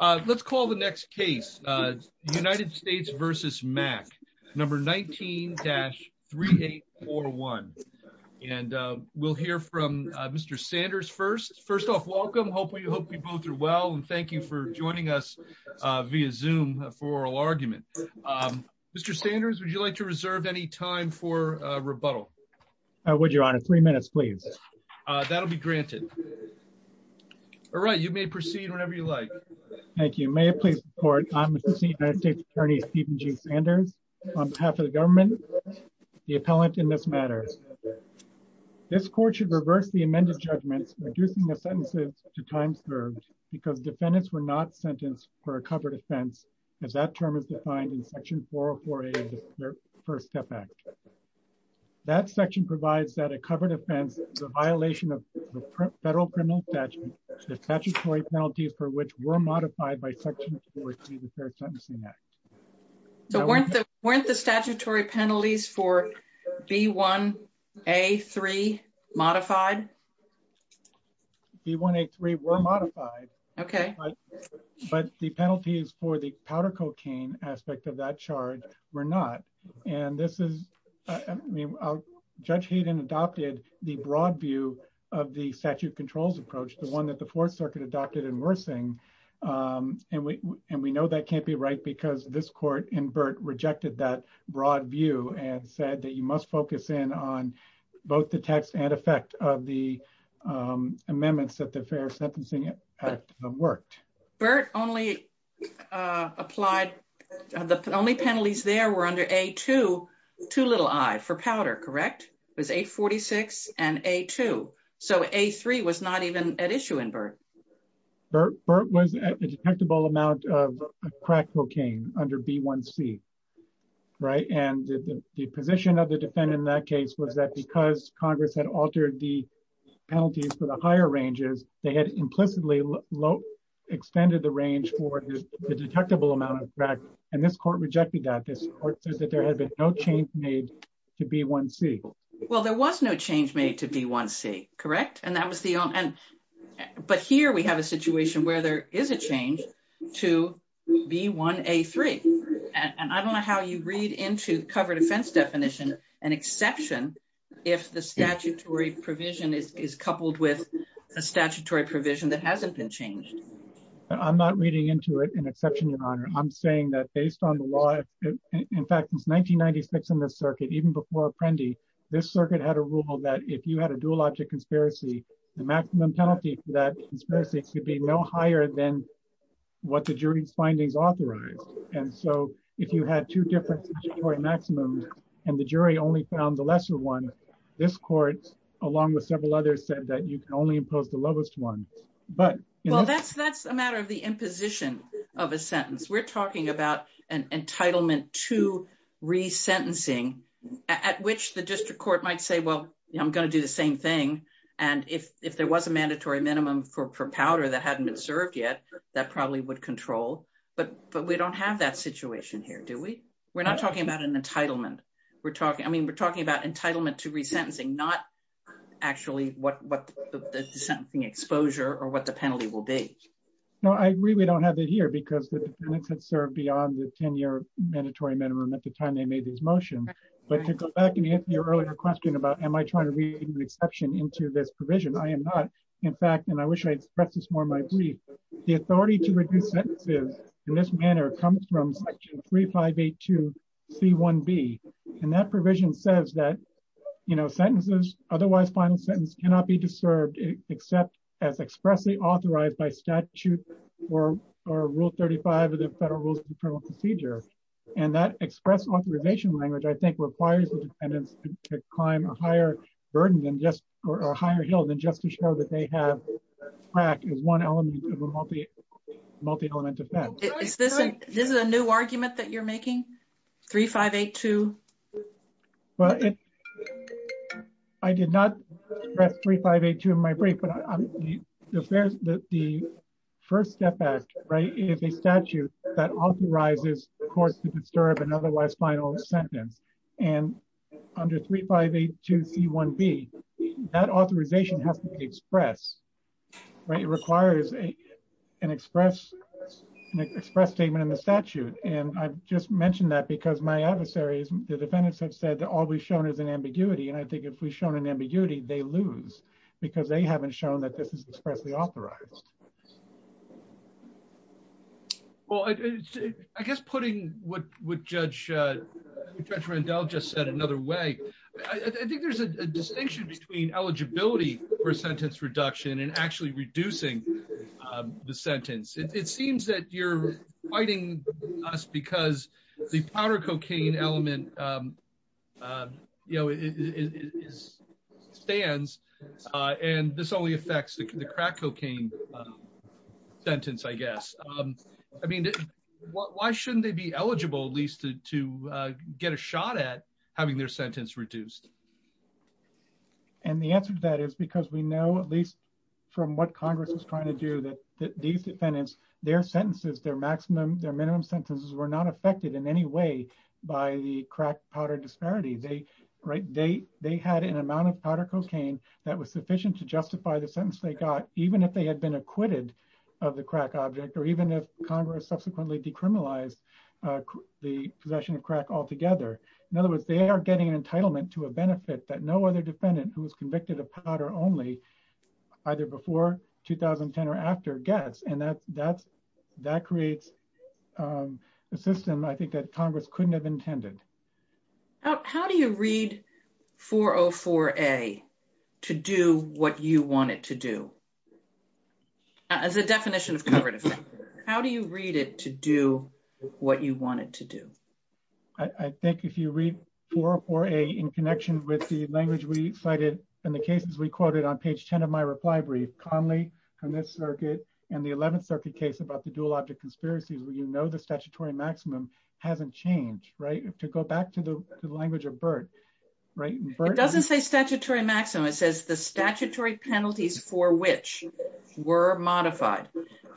Let's call the next case, United States v. Mack, number 19-3841. And we'll hear from Mr. Sanders first. First off, welcome, hope you both are well, and thank you for joining us via Zoom for oral argument. Mr. Sanders, would you like to reserve any time for rebuttal? I would, your honor, three minutes, please. That'll be granted. All right, you may proceed whenever you like. Thank you. May it please the court, I'm Assistant United States Attorney Stephen G. Sanders. On behalf of the government, the appellant in this matter, this court should reverse the amended judgments, reducing the sentences to time served because defendants were not sentenced for a covered offense as that term is defined in section 404A of the First Step Act. That section provides that a covered offense is a violation of the federal criminal statute, the statutory penalties for which were modified by section 403 of the Fair Sentencing Act. So weren't the statutory penalties for B1A3 modified? B1A3 were modified, but the penalties for the powder cocaine aspect of that charge were not. And this is, I mean, Judge Hayden adopted the broad view of the statute controls approach, the one that the Fourth Circuit adopted in Wersing. And we know that can't be right because this court in Burt rejected that broad view and said that you must focus in on both the text and effect of the amendments that the Fair Sentencing Act worked. Burt only applied, the only penalties there were under A2, too little I for powder, correct? It was 846 and A2. So A3 was not even at issue in Burt. Burt was at a detectable amount of crack cocaine under B1C, right? And the position of the defendant in that case was that because Congress had altered the penalties for the higher ranges, they had implicitly extended the range for the detectable amount of crack. And this court rejected that. This court says that there has been no change made to B1C. Well, there was no change made to B1C, correct? But here we have a situation where there is a change to B1A3. And I don't know how you read into cover defense definition an exception if the statutory provision is coupled with a statutory provision that hasn't been changed. I'm not reading into it an exception, Your Honor. I'm saying that based on the law, in fact, since 1996 in this circuit, even before Apprendi, this circuit had a rule that if you had a dual object conspiracy, the maximum penalty for that conspiracy could be no higher than what the jury's findings authorized. And so if you had two different statutory maximums and the jury only found the lesser one, this court, along with several others, said that you can only impose the lowest one. Well, that's a matter of the imposition of a sentence. We're talking about an entitlement to resentencing at which the district court might say, well, I'm going to do the same thing. And if there was a mandatory minimum for powder that hadn't been served yet, that probably would control. But we don't have that situation here, do we? We're not talking about an entitlement. I mean, we're talking about entitlement to resentencing, not actually what the sentencing exposure or what the penalty will be. No, I really don't have it here because the defendants had served beyond the 10-year mandatory minimum at the time they made this motion. But to go back and answer your earlier question about am I trying to read an exception into this provision? I am not. In fact, and I wish I expressed this more in my brief, the authority to reduce sentences in this manner comes from section 3582C1B. And that provision says that sentences, otherwise final sentence cannot be disturbed except as expressly authorized by statute or rule 35 of the Federal Rules of Procedure. And that express authorization language, I think requires the defendants to climb a higher burden than just, or a higher hill than just to show that they have crack as one element of a multi-element offense. This is a new argument that you're making, 3582? Well, I did not express 3582 in my brief, but the first step back is a statute that authorizes the court to disturb an otherwise final sentence. And under 3582C1B, that authorization has to be expressed. Right, it requires an express statement in the statute. And I've just mentioned that because my adversaries, the defendants have said that all we've shown is an ambiguity. And I think if we've shown an ambiguity, they lose because they haven't shown that this is expressly authorized. Well, I guess putting what Judge Randell just said another way, I think there's a distinction between eligibility for a sentence reduction and actually reducing the sentence. It seems that you're fighting us because the powder cocaine element stands and this only affects the crack cocaine sentence, I guess. I mean, why shouldn't they be eligible at least to get a shot at having their sentence reduced? And the answer to that is because we know, at least from what Congress is trying to do, that these defendants, their sentences, their maximum, their minimum sentences were not affected in any way by the crack powder disparity. They had an amount of powder cocaine that was sufficient to justify the sentence they got, even if they had been acquitted of the crack object or even if Congress subsequently decriminalized the possession of crack altogether. In other words, they are getting an entitlement to a benefit that no other defendant who was convicted of powder only, either before 2010 or after gets. And that creates a system, I think that Congress couldn't have intended. How do you read 404A to do what you want it to do? As a definition of covert offense, how do you read it to do what you want it to do? I think if you read 404A in connection with the language we cited and the cases we quoted on page 10 of my reply brief, Conley and this circuit and the 11th circuit case about the dual object conspiracies, where you know the statutory maximum hasn't changed, right? To go back to the language of Burt, right? It doesn't say statutory maximum. It says the statutory penalties for which were modified.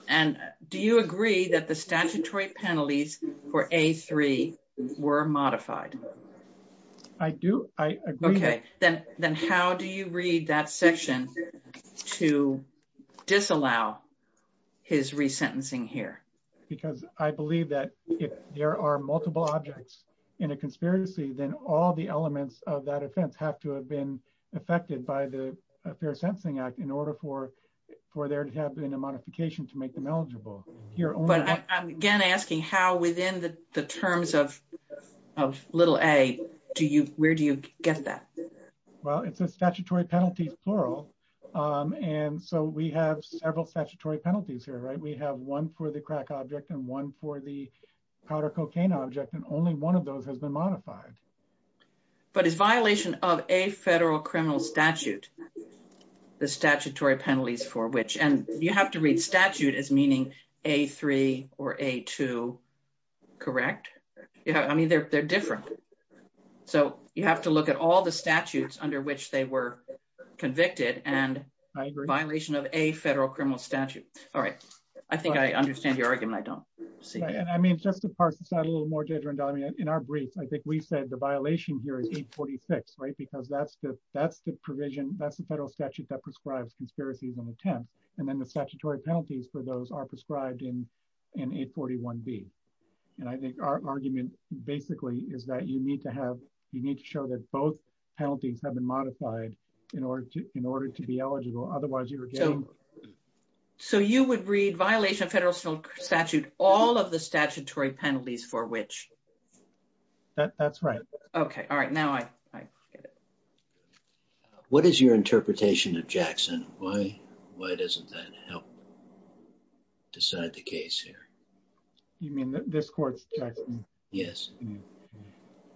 And do you agree that the statutory penalties for A3 were modified? I do, I agree. Okay, then how do you read that section to disallow his resentencing here? Because I believe that if there are multiple objects in a conspiracy, then all the elements of that offense have to have been affected by the Fair Sentencing Act in order for there to have been a modification to make them eligible. But I'm again asking how within the terms of little A, where do you get that? Well, it's a statutory penalties plural. And so we have several statutory penalties here, right? We have one for the crack object and one for the powder cocaine object and only one of those has been modified. But it's violation of a federal criminal statute, the statutory penalties for which, and you have to read statute as meaning A3 or A2, correct? I mean, they're different. So you have to look at all the statutes under which they were convicted and violation of a federal criminal statute. All right, I think I understand your argument. I don't see it. And I mean, just to parse this out a little more, Deirdre, in our briefs, I think we said the violation here is 846, right? Because that's the provision, that's the federal statute that prescribes conspiracies on the 10th. And then the statutory penalties for those are prescribed in 841B. And I think our argument basically is that you need to have, you need to show that both penalties have been modified in order to be eligible. Otherwise you're getting- So you would read violation of federal statute, all of the statutory penalties for which? That's right. Okay, all right, now I get it. What is your interpretation of Jackson? Why doesn't that help decide the case here? You mean this court's Jackson? Yes.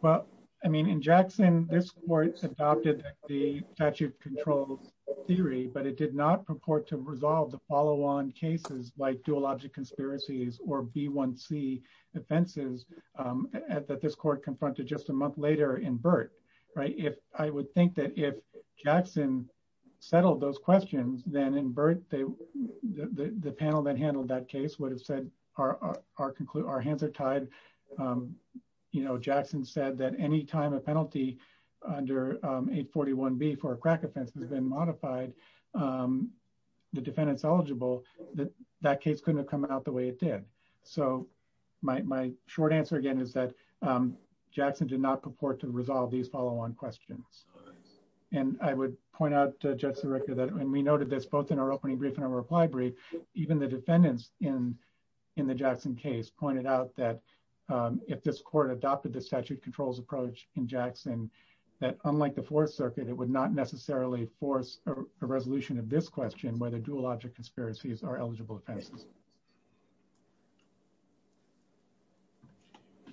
Well, I mean, in Jackson, this court adopted the statute control theory, but it did not purport to resolve the follow-on cases like dual object conspiracies or B1C offenses that this court confronted just a month later in Burt, right? I would think that if Jackson settled those questions, then in Burt, the panel that handled that case would have said, our hands are tied. Jackson said that any time a penalty under 841B for a crack offense has been modified, the defendant's eligible, that that case couldn't have come out the way it did. So my short answer again is that Jackson did not purport to resolve these follow-on questions. And I would point out, Judge Sirica, that when we noted this both in our opening brief and our reply brief, even the defendants in the Jackson case pointed out that if this court adopted the statute controls approach in Jackson, that unlike the Fourth Circuit, it would not necessarily force a resolution of this question where the dual object conspiracies are eligible offenses.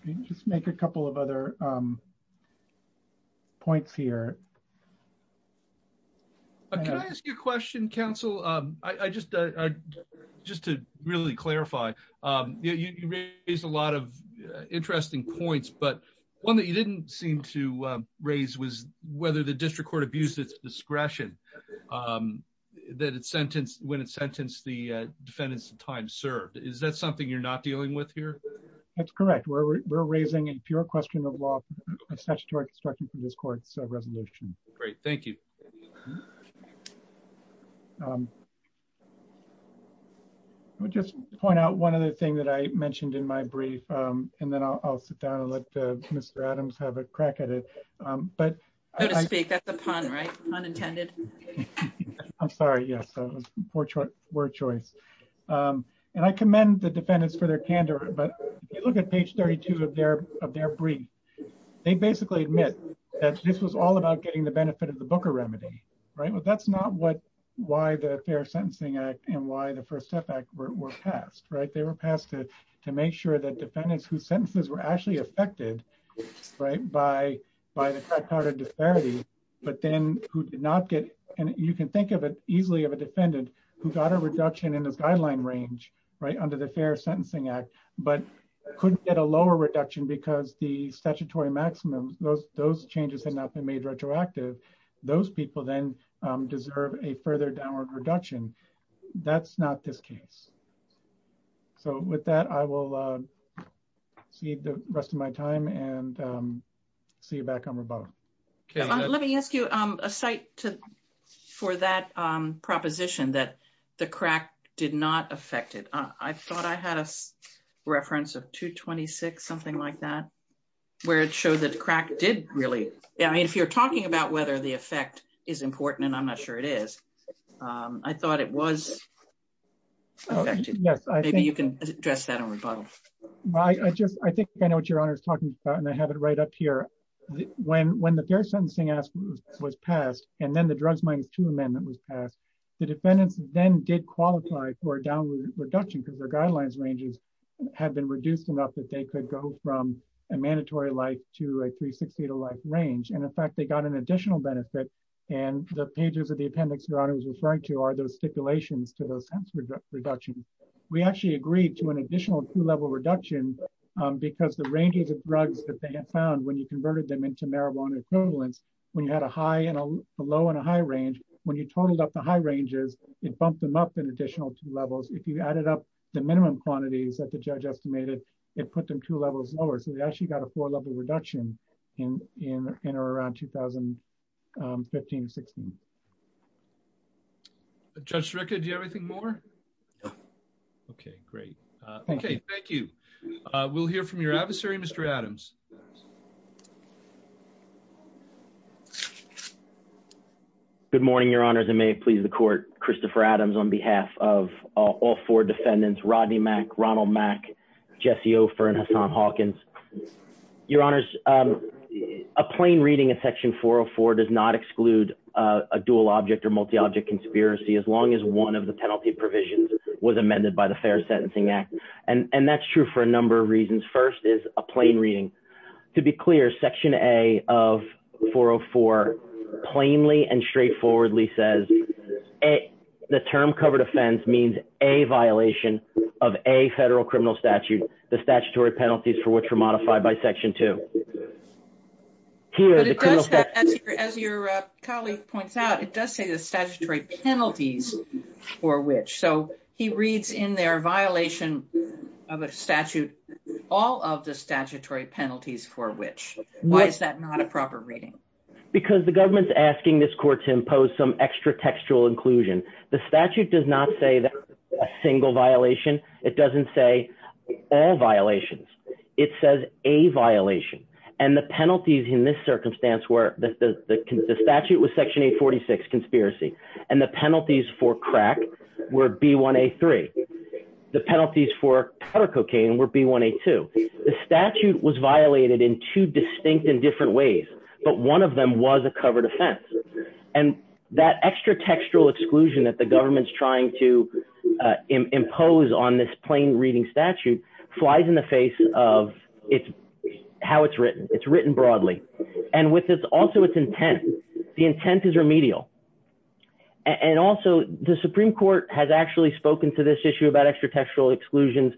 Can you just make a couple of other points here? Can I ask you a question, counsel? Just to really clarify, you raised a lot of interesting points, but one that you didn't seem to raise was whether the district court abused its discretion when it sentenced the defendants to time served. Is that something you're not dealing with here? That's correct. We're raising a pure question of law and statutory construction for this court's resolution. Great. Thank you. I would just point out one other thing that I mentioned in my brief, and then I'll sit down and let Mr. Adams have a crack at it. But- Go to speak. That's a pun, right? Pun intended. I'm sorry. Yes, it was poor choice. And I commend the defendants for their candor, but if you look at page 32 of their brief, they basically admit that this was all about getting the benefit of the Booker remedy, right? But that's not why the Fair Sentencing Act and why the First Step Act were passed, right? They were passed to make sure that defendants whose sentences were actually affected by the crack powder disparity, but then who did not get, and you can think of it easily of a defendant who got a reduction in his guideline range, right? Under the Fair Sentencing Act, but couldn't get a lower reduction because the statutory maximum, those changes had not been made retroactive. Those people then deserve a further downward reduction. That's not this case. So with that, I will cede the rest of my time and see you back on rebuttal. Let me ask you a site for that proposition that the crack did not affect it. I thought I had a reference of 226, something like that, where it showed that the crack did really, I mean, if you're talking about whether the effect is important, and I'm not sure it is, I thought it was affected. Yes, I think- Maybe you can address that on rebuttal. I think I know what Your Honor is talking about, and I have it right up here. When the Fair Sentencing Act was passed, and then the Drugs Minus Two Amendment was passed, the defendants then did qualify for a downward reduction because their guidelines ranges had been reduced enough that they could go from a mandatory life to a 360-day life range. And in fact, they got an additional benefit, and the pages of the appendix Your Honor was referring to are those stipulations to those reduction. We actually agreed to an additional two-level reduction because the ranges of drugs that they had found, when you converted them into marijuana equivalents, when you had a high and a low and a high range, when you totaled up the high ranges, it bumped them up an additional two levels. If you added up the minimum quantities that the judge estimated, it put them two levels lower. So they actually got a four-level reduction in or around 2015, 16. Judge Sreka, do you have anything more? Okay, great. Okay, thank you. We'll hear from your adversary, Mr. Adams. Good morning, Your Honors, and may it please the court. Christopher Adams on behalf of all four defendants, Rodney Mack, Ronald Mack, Jesse Ofer, and Hassan Hawkins. Your Honors, a plain reading of Section 404 does not exclude a dual object or multi-object conspiracy as long as one of the penalty provisions was amended by the Fair Sentencing Act. And that's true for a number of reasons. First is a plain reading. To be clear, Section A of 404 plainly and straightforwardly says the term covered offense means a violation of a federal criminal statute, the statutory penalties for which were modified by Section 2. As your colleague points out, it does say the statutory penalties for which. So he reads in their violation of a statute, all of the statutory penalties for which. Why is that not a proper reading? Because the government's asking this court to impose some extra textual inclusion. The statute does not say that a single violation. It doesn't say all violations. It says a violation. And the penalties in this circumstance were the statute was Section 846, conspiracy. And the penalties for crack were B1A3. The penalties for powder cocaine were B1A2. The statute was violated in two distinct and different ways, but one of them was a covered offense. And that extra textual exclusion that the government's trying to impose on this plain reading statute flies in the face of how it's written. It's written broadly. And with this also its intent, the intent is remedial. And also the Supreme Court has actually spoken to this issue about extra textual exclusions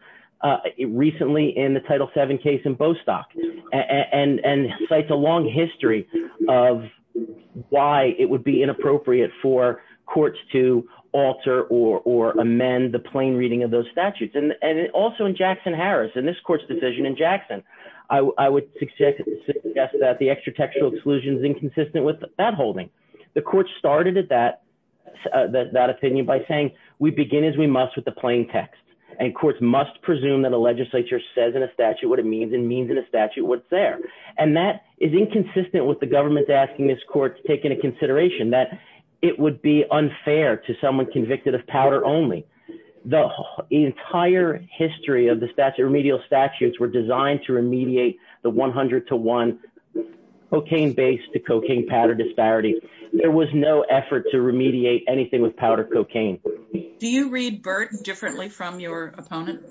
recently in the Title VII case in Bostock and cites a long history of why it would be inappropriate for courts to alter or amend the plain reading of those statutes. And also in Jackson-Harris and this court's decision in Jackson, I would suggest that the extra textual exclusion is inconsistent with that holding. The court started at that opinion by saying we begin as we must with the plain text. And courts must presume that a legislature says in a statute what it means and means in a statute what's there. And that is inconsistent with the government's asking this court to take into consideration that it would be unfair to someone convicted of powder only. The entire history of the statute, remedial statutes, were designed to remediate the 100 to one cocaine base to cocaine powder disparity. There was no effort to remediate anything with powder cocaine. Do you read BERT differently from your opponent?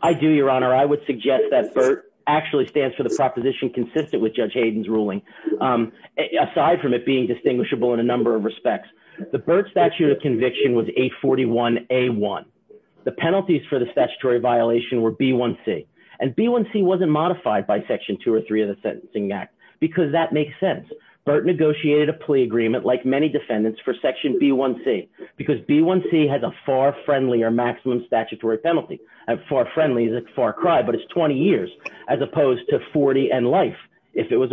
I do, Your Honor. I would suggest that BERT actually stands for the proposition consistent with Judge Hayden's ruling, aside from it being distinguishable in a number of respects. The BERT statute of conviction was 841 A1. The penalties for the statutory violation were B1C. And B1C wasn't modified by section two or three of the Sentencing Act because that makes sense. BERT negotiated a plea agreement like many defendants for section B1C because B1C has a far friendlier maximum statutory penalty. Far friendly is a far cry, but it's 20 years as opposed to 40 and life if it was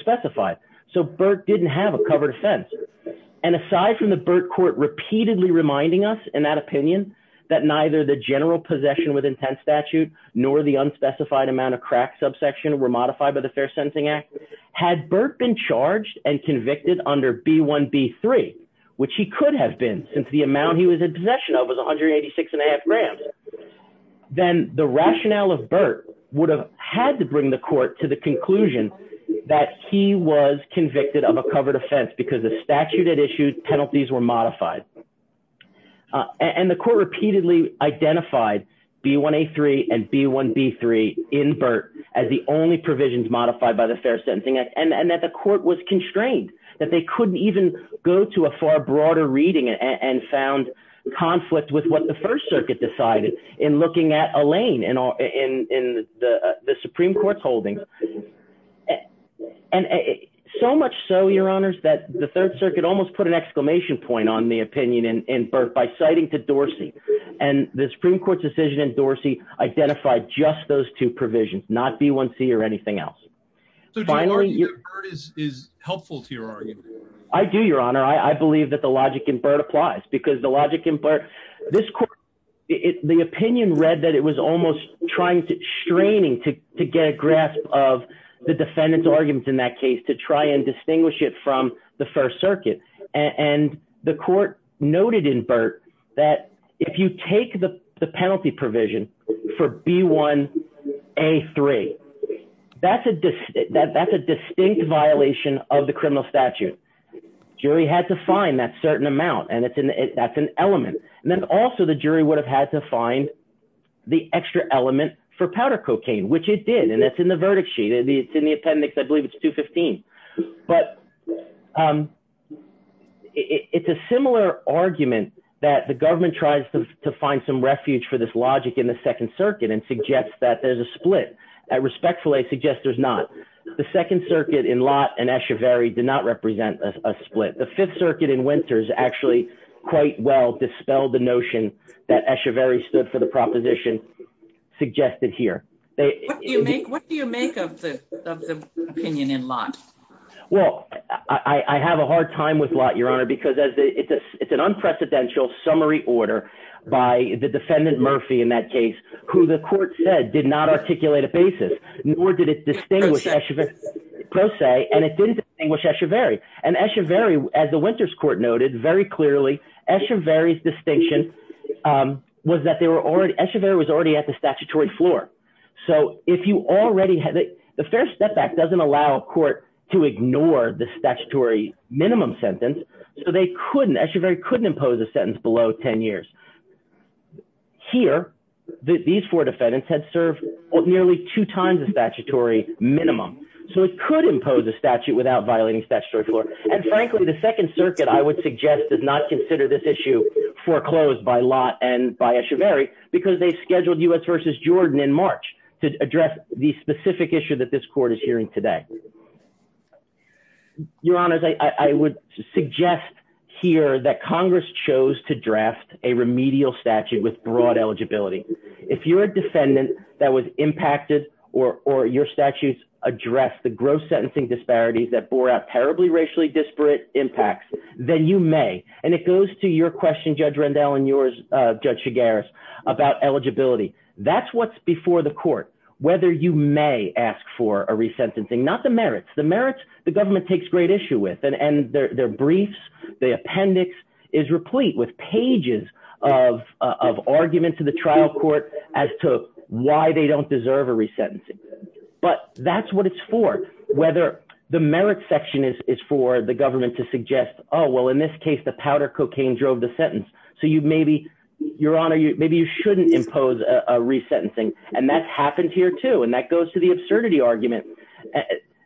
specified. So BERT didn't have a covered offense. And aside from the BERT court repeatedly reminding us in that opinion that neither the general possession with intense statute nor the unspecified amount of crack subsection were modified by the Fair Sentencing Act, had BERT been charged and convicted under B1B3, which he could have been since the amount he was in possession of was 186 and a half grams, then the rationale of BERT would have had to bring the court to the conclusion that he was convicted of a covered offense because the statute had issued penalties were modified. And the court repeatedly identified B1A3 and B1B3 in BERT as the only provisions modified by the Fair Sentencing Act and that the court was constrained, that they couldn't even go to a far broader reading and found conflict with what the First Circuit decided in looking at Elaine in the Supreme Court's holding. And so much so, Your Honors, that the Third Circuit almost put an exclamation point on the opinion in BERT by citing to Dorsey and the Supreme Court's decision in Dorsey identified just those two provisions, not B1C or anything else. So do you argue that BERT is helpful to your argument? I do, Your Honor. I believe that the logic in BERT applies because the logic in BERT, this court, the opinion read that it was almost trying to, straining to get a grasp of the defendant's arguments in that case to try and distinguish it from the First Circuit. And the court noted in BERT that if you take the penalty provision for B1A3, that's a distinct violation of the criminal statute. Jury had to find that certain amount and that's an element. And then also the jury would have had to find the extra element for powder cocaine, which it did. And that's in the verdict sheet. It's in the appendix. I believe it's 215. But it's a similar argument that the government tries to find some refuge for this logic in the Second Circuit and suggests that there's a split and respectfully suggests there's not. The Second Circuit in Lott and Escheverry did not represent a split. The Fifth Circuit in Winters actually quite well dispelled the notion that Escheverry stood for the proposition suggested here. What do you make of the opinion in Lott? Well, I have a hard time with Lott, Your Honor, because it's an unprecedented summary order by the defendant Murphy in that case, who the court said did not articulate a basis, nor did it distinguish Escheverry. And Escheverry, as the Winters Court noted very clearly, Escheverry's distinction was that they were already, Escheverry was already at the statutory floor. So if you already had, the Fair Step Back doesn't allow a court to ignore the statutory minimum sentence. So they couldn't, Escheverry couldn't impose a sentence below 10 years. Here, these four defendants had served nearly two times the statutory minimum. So it could impose a statute without violating statutory floor. And frankly, the Second Circuit, I would suggest, does not consider this issue foreclosed by Lott and by Escheverry because they scheduled U.S. versus Jordan in March to address the specific issue that this court is hearing today. Your Honor, I would suggest here that Congress chose to draft a remedial statute with broad eligibility. If you're a defendant that was impacted or your statutes address the gross sentencing disparities that bore out terribly racially disparate impacts, then you may. And it goes to your question, Judge Rendell, and yours, Judge Chigares, about eligibility. That's what's before the court, whether you may ask for a resentencing, not the merits. The merits, the government takes great issue with and their briefs, the appendix is replete with pages of arguments to the trial court as to why they don't deserve a resentencing. But that's what it's for, whether the merits section is for the government to suggest, oh, well, in this case, the powder cocaine drove the sentence. So you maybe, Your Honor, maybe you shouldn't impose a resentencing. And that's happened here, too. And that goes to the absurdity argument.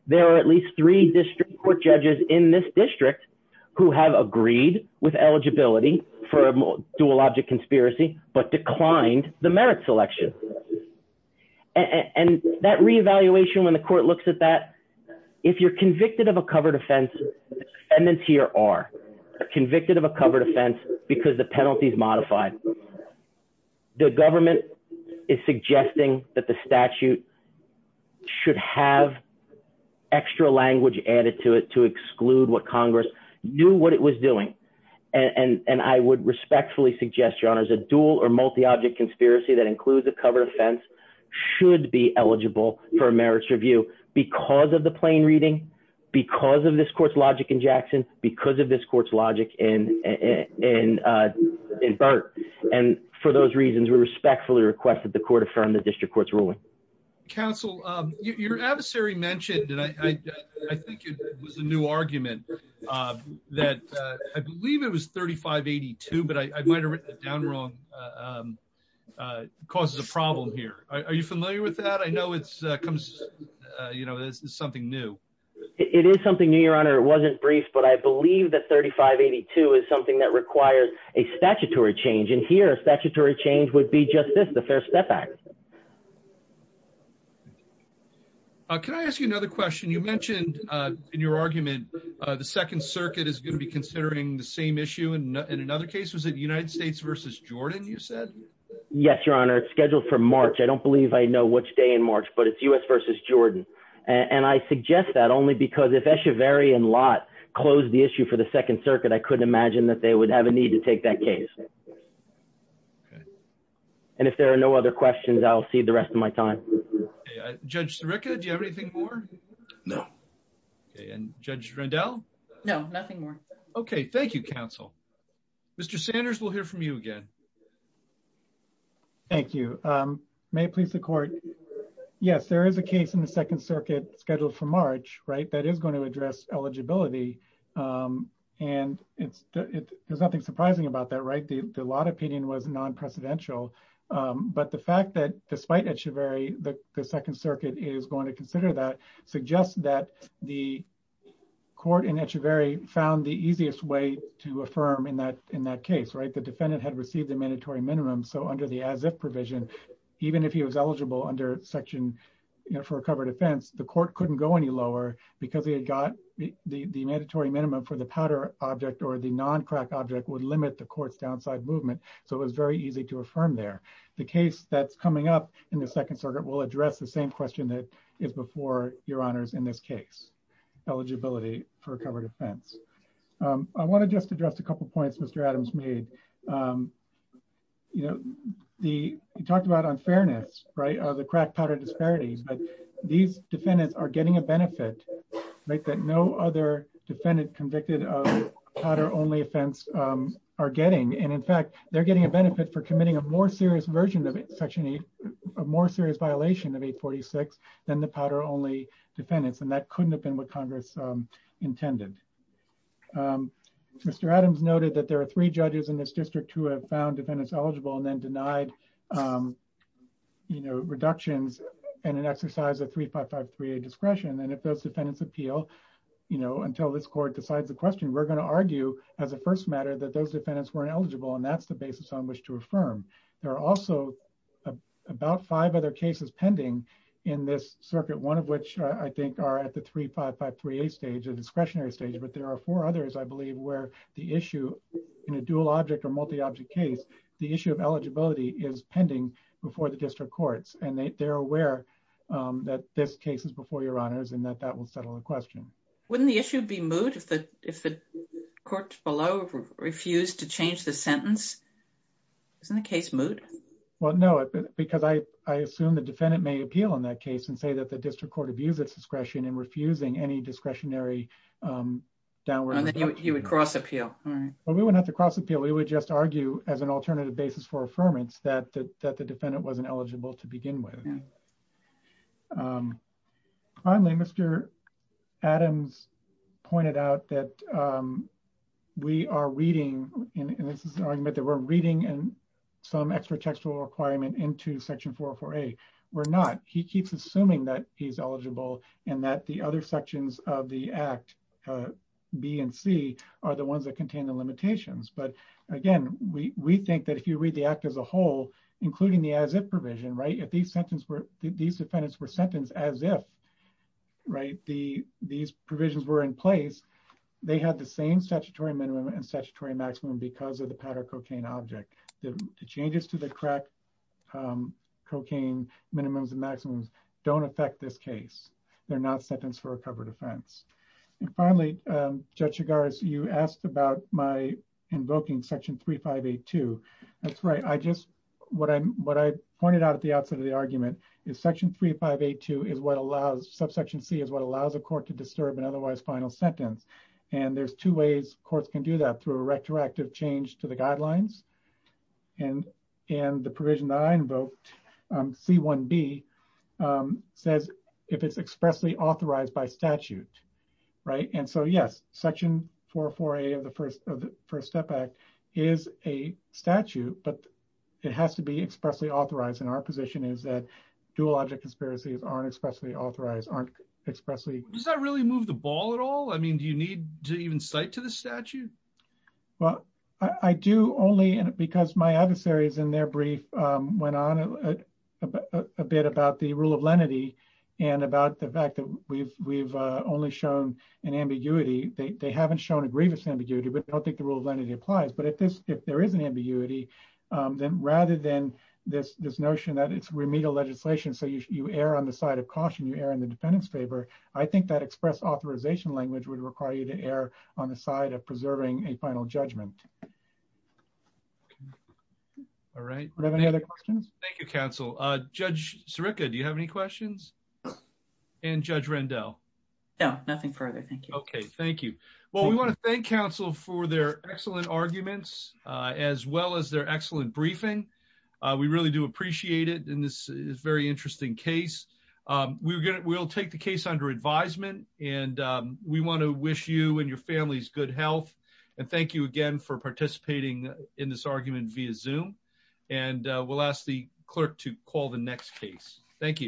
There are at least three district court judges in this district who have agreed with eligibility for a dual object conspiracy, but declined the merit selection. And that reevaluation, when the court looks at that, if you're convicted of a covered offense, defendants here are convicted of a covered offense because the penalty is modified. The government is suggesting that the statute should have extra language added to it to exclude what Congress knew what it was doing. And I would respectfully suggest, a dual or multi-object conspiracy that includes a covered offense should be eligible for a merits review because of the plain reading, because of this court's logic in Jackson, because of this court's logic in Burt. And for those reasons, we respectfully request that the court affirm the district court's ruling. Counsel, your adversary mentioned that I think it was a new argument that I believe it was 3582, but I might've written it down wrong, causes a problem here. Are you familiar with that? I know it's something new. It is something new, your honor. It wasn't brief, but I believe that 3582 is something that requires a statutory change. And here a statutory change would be just this, the Fair Step Act. Can I ask you another question? You mentioned in your argument, the second circuit is going to be considering the same issue in another case. Was it United States versus Jordan? You said? Yes, your honor. It's scheduled for March. I don't believe I know which day in March, but it's US versus Jordan. And I suggest that only because if Escheverry and Lott closed the issue for the second circuit, I couldn't imagine that they would have a need to take that case. And if there are no other questions, I'll see the rest of my time. Judge Sirica, do you have anything more? No. Okay. And Judge Rendell? No, nothing more. Okay. Thank you, counsel. Mr. Sanders, we'll hear from you again. Thank you. May it please the court. Yes, there is a case in the second circuit scheduled for March, right? That is going to address eligibility. And there's nothing surprising about that, right? The Lott opinion was non-precedential. But the fact that despite Escheverry, the second circuit is going to consider that suggests that the court in Escheverry found the easiest way to affirm in that case, right? The defendant had received the mandatory minimum. So under the as-if provision, even if he was eligible under section for a covered offense, the court couldn't go any lower because he had got the mandatory minimum for the powder object or the non-crack object would limit the court's downside movement. So it was very easy to affirm there. The case that's coming up in the second circuit will address the same question that is before your honors in this case, eligibility for a covered offense. I want to just address a couple of points Mr. Adams made. He talked about unfairness, right? The crack powder disparities, but these defendants are getting a benefit that no other defendant convicted of powder only offense are getting. And in fact, they're getting a benefit for committing a more serious version of section eight, a more serious violation of 846 than the powder only defendants. And that couldn't have been what Congress intended. Mr. Adams noted that there are three judges in this district who have found defendants eligible and then denied reductions in an exercise of 355-3A discretion. And if those defendants appeal, until this court decides the question, we're going to argue as a first matter that those defendants weren't eligible and that's the basis on which to affirm. There are also about five other cases pending in this circuit. One of which I think are at the 355-3A stage but there are four others I believe where the issue in a dual object or multi-object case, the issue of eligibility is pending before the district courts and they're aware that this case is before your honors and that that will settle the question. Wouldn't the issue be moot if the court below refused to change the sentence? Isn't the case moot? Well, no, because I assume the defendant may appeal in that case and say that the district court abused its discretion and refusing any discretionary downward. And then you would cross appeal. Well, we wouldn't have to cross appeal. We would just argue as an alternative basis for affirmance that the defendant wasn't eligible to begin with. Finally, Mr. Adams pointed out that we are reading and this is an argument that we're reading and some extra textual requirement into section 404-A. We're not. He keeps assuming that he's eligible and that the other sections of the act B and C are the ones that contain the limitations. But again, we think that if you read the act as a whole including the as if provision, right? These defendants were sentenced as if, right, these provisions were in place. They had the same statutory minimum and statutory maximum because of the powder cocaine object. The changes to the crack cocaine minimums and maximums don't affect this case. They're not sentenced for a covered offense. And finally, Judge Chigars, you asked about my invoking section 3582. That's right. I just, what I pointed out at the outset of the argument is section 3582 is what allows, subsection C is what allows a court to disturb an otherwise final sentence. And there's two ways courts can do that through a retroactive change to the guidelines. And the provision that I invoked, C1B, says if it's expressly authorized by statute, right? And so yes, section 404A of the First Step Act is a statute, but it has to be expressly authorized. And our position is that dual object conspiracies aren't expressly authorized, aren't expressly- Does that really move the ball at all? I mean, do you need to even cite to the statute? Well, I do only because my adversaries in their brief went on a bit about the rule of lenity and about the fact that we've only shown an ambiguity. They haven't shown a grievous ambiguity, but I don't think the rule of lenity applies. But if there is an ambiguity, then rather than this notion that it's remedial legislation, so you err on the side of caution, you err in the defendant's favor, I think that express authorization language would require you to err on the side of preserving a final judgment. All right. Do we have any other questions? Thank you, counsel. Judge Sirica, do you have any questions? And Judge Rendell? No, nothing further. Thank you. Okay, thank you. Well, we want to thank counsel for their excellent arguments as well as their excellent briefing. We really do appreciate it. And this is a very interesting case. We'll take the case under advisement. And we want to wish you and your families good health. And thank you again for participating in this argument via Zoom. And we'll ask the clerk to call the next case. Thank you.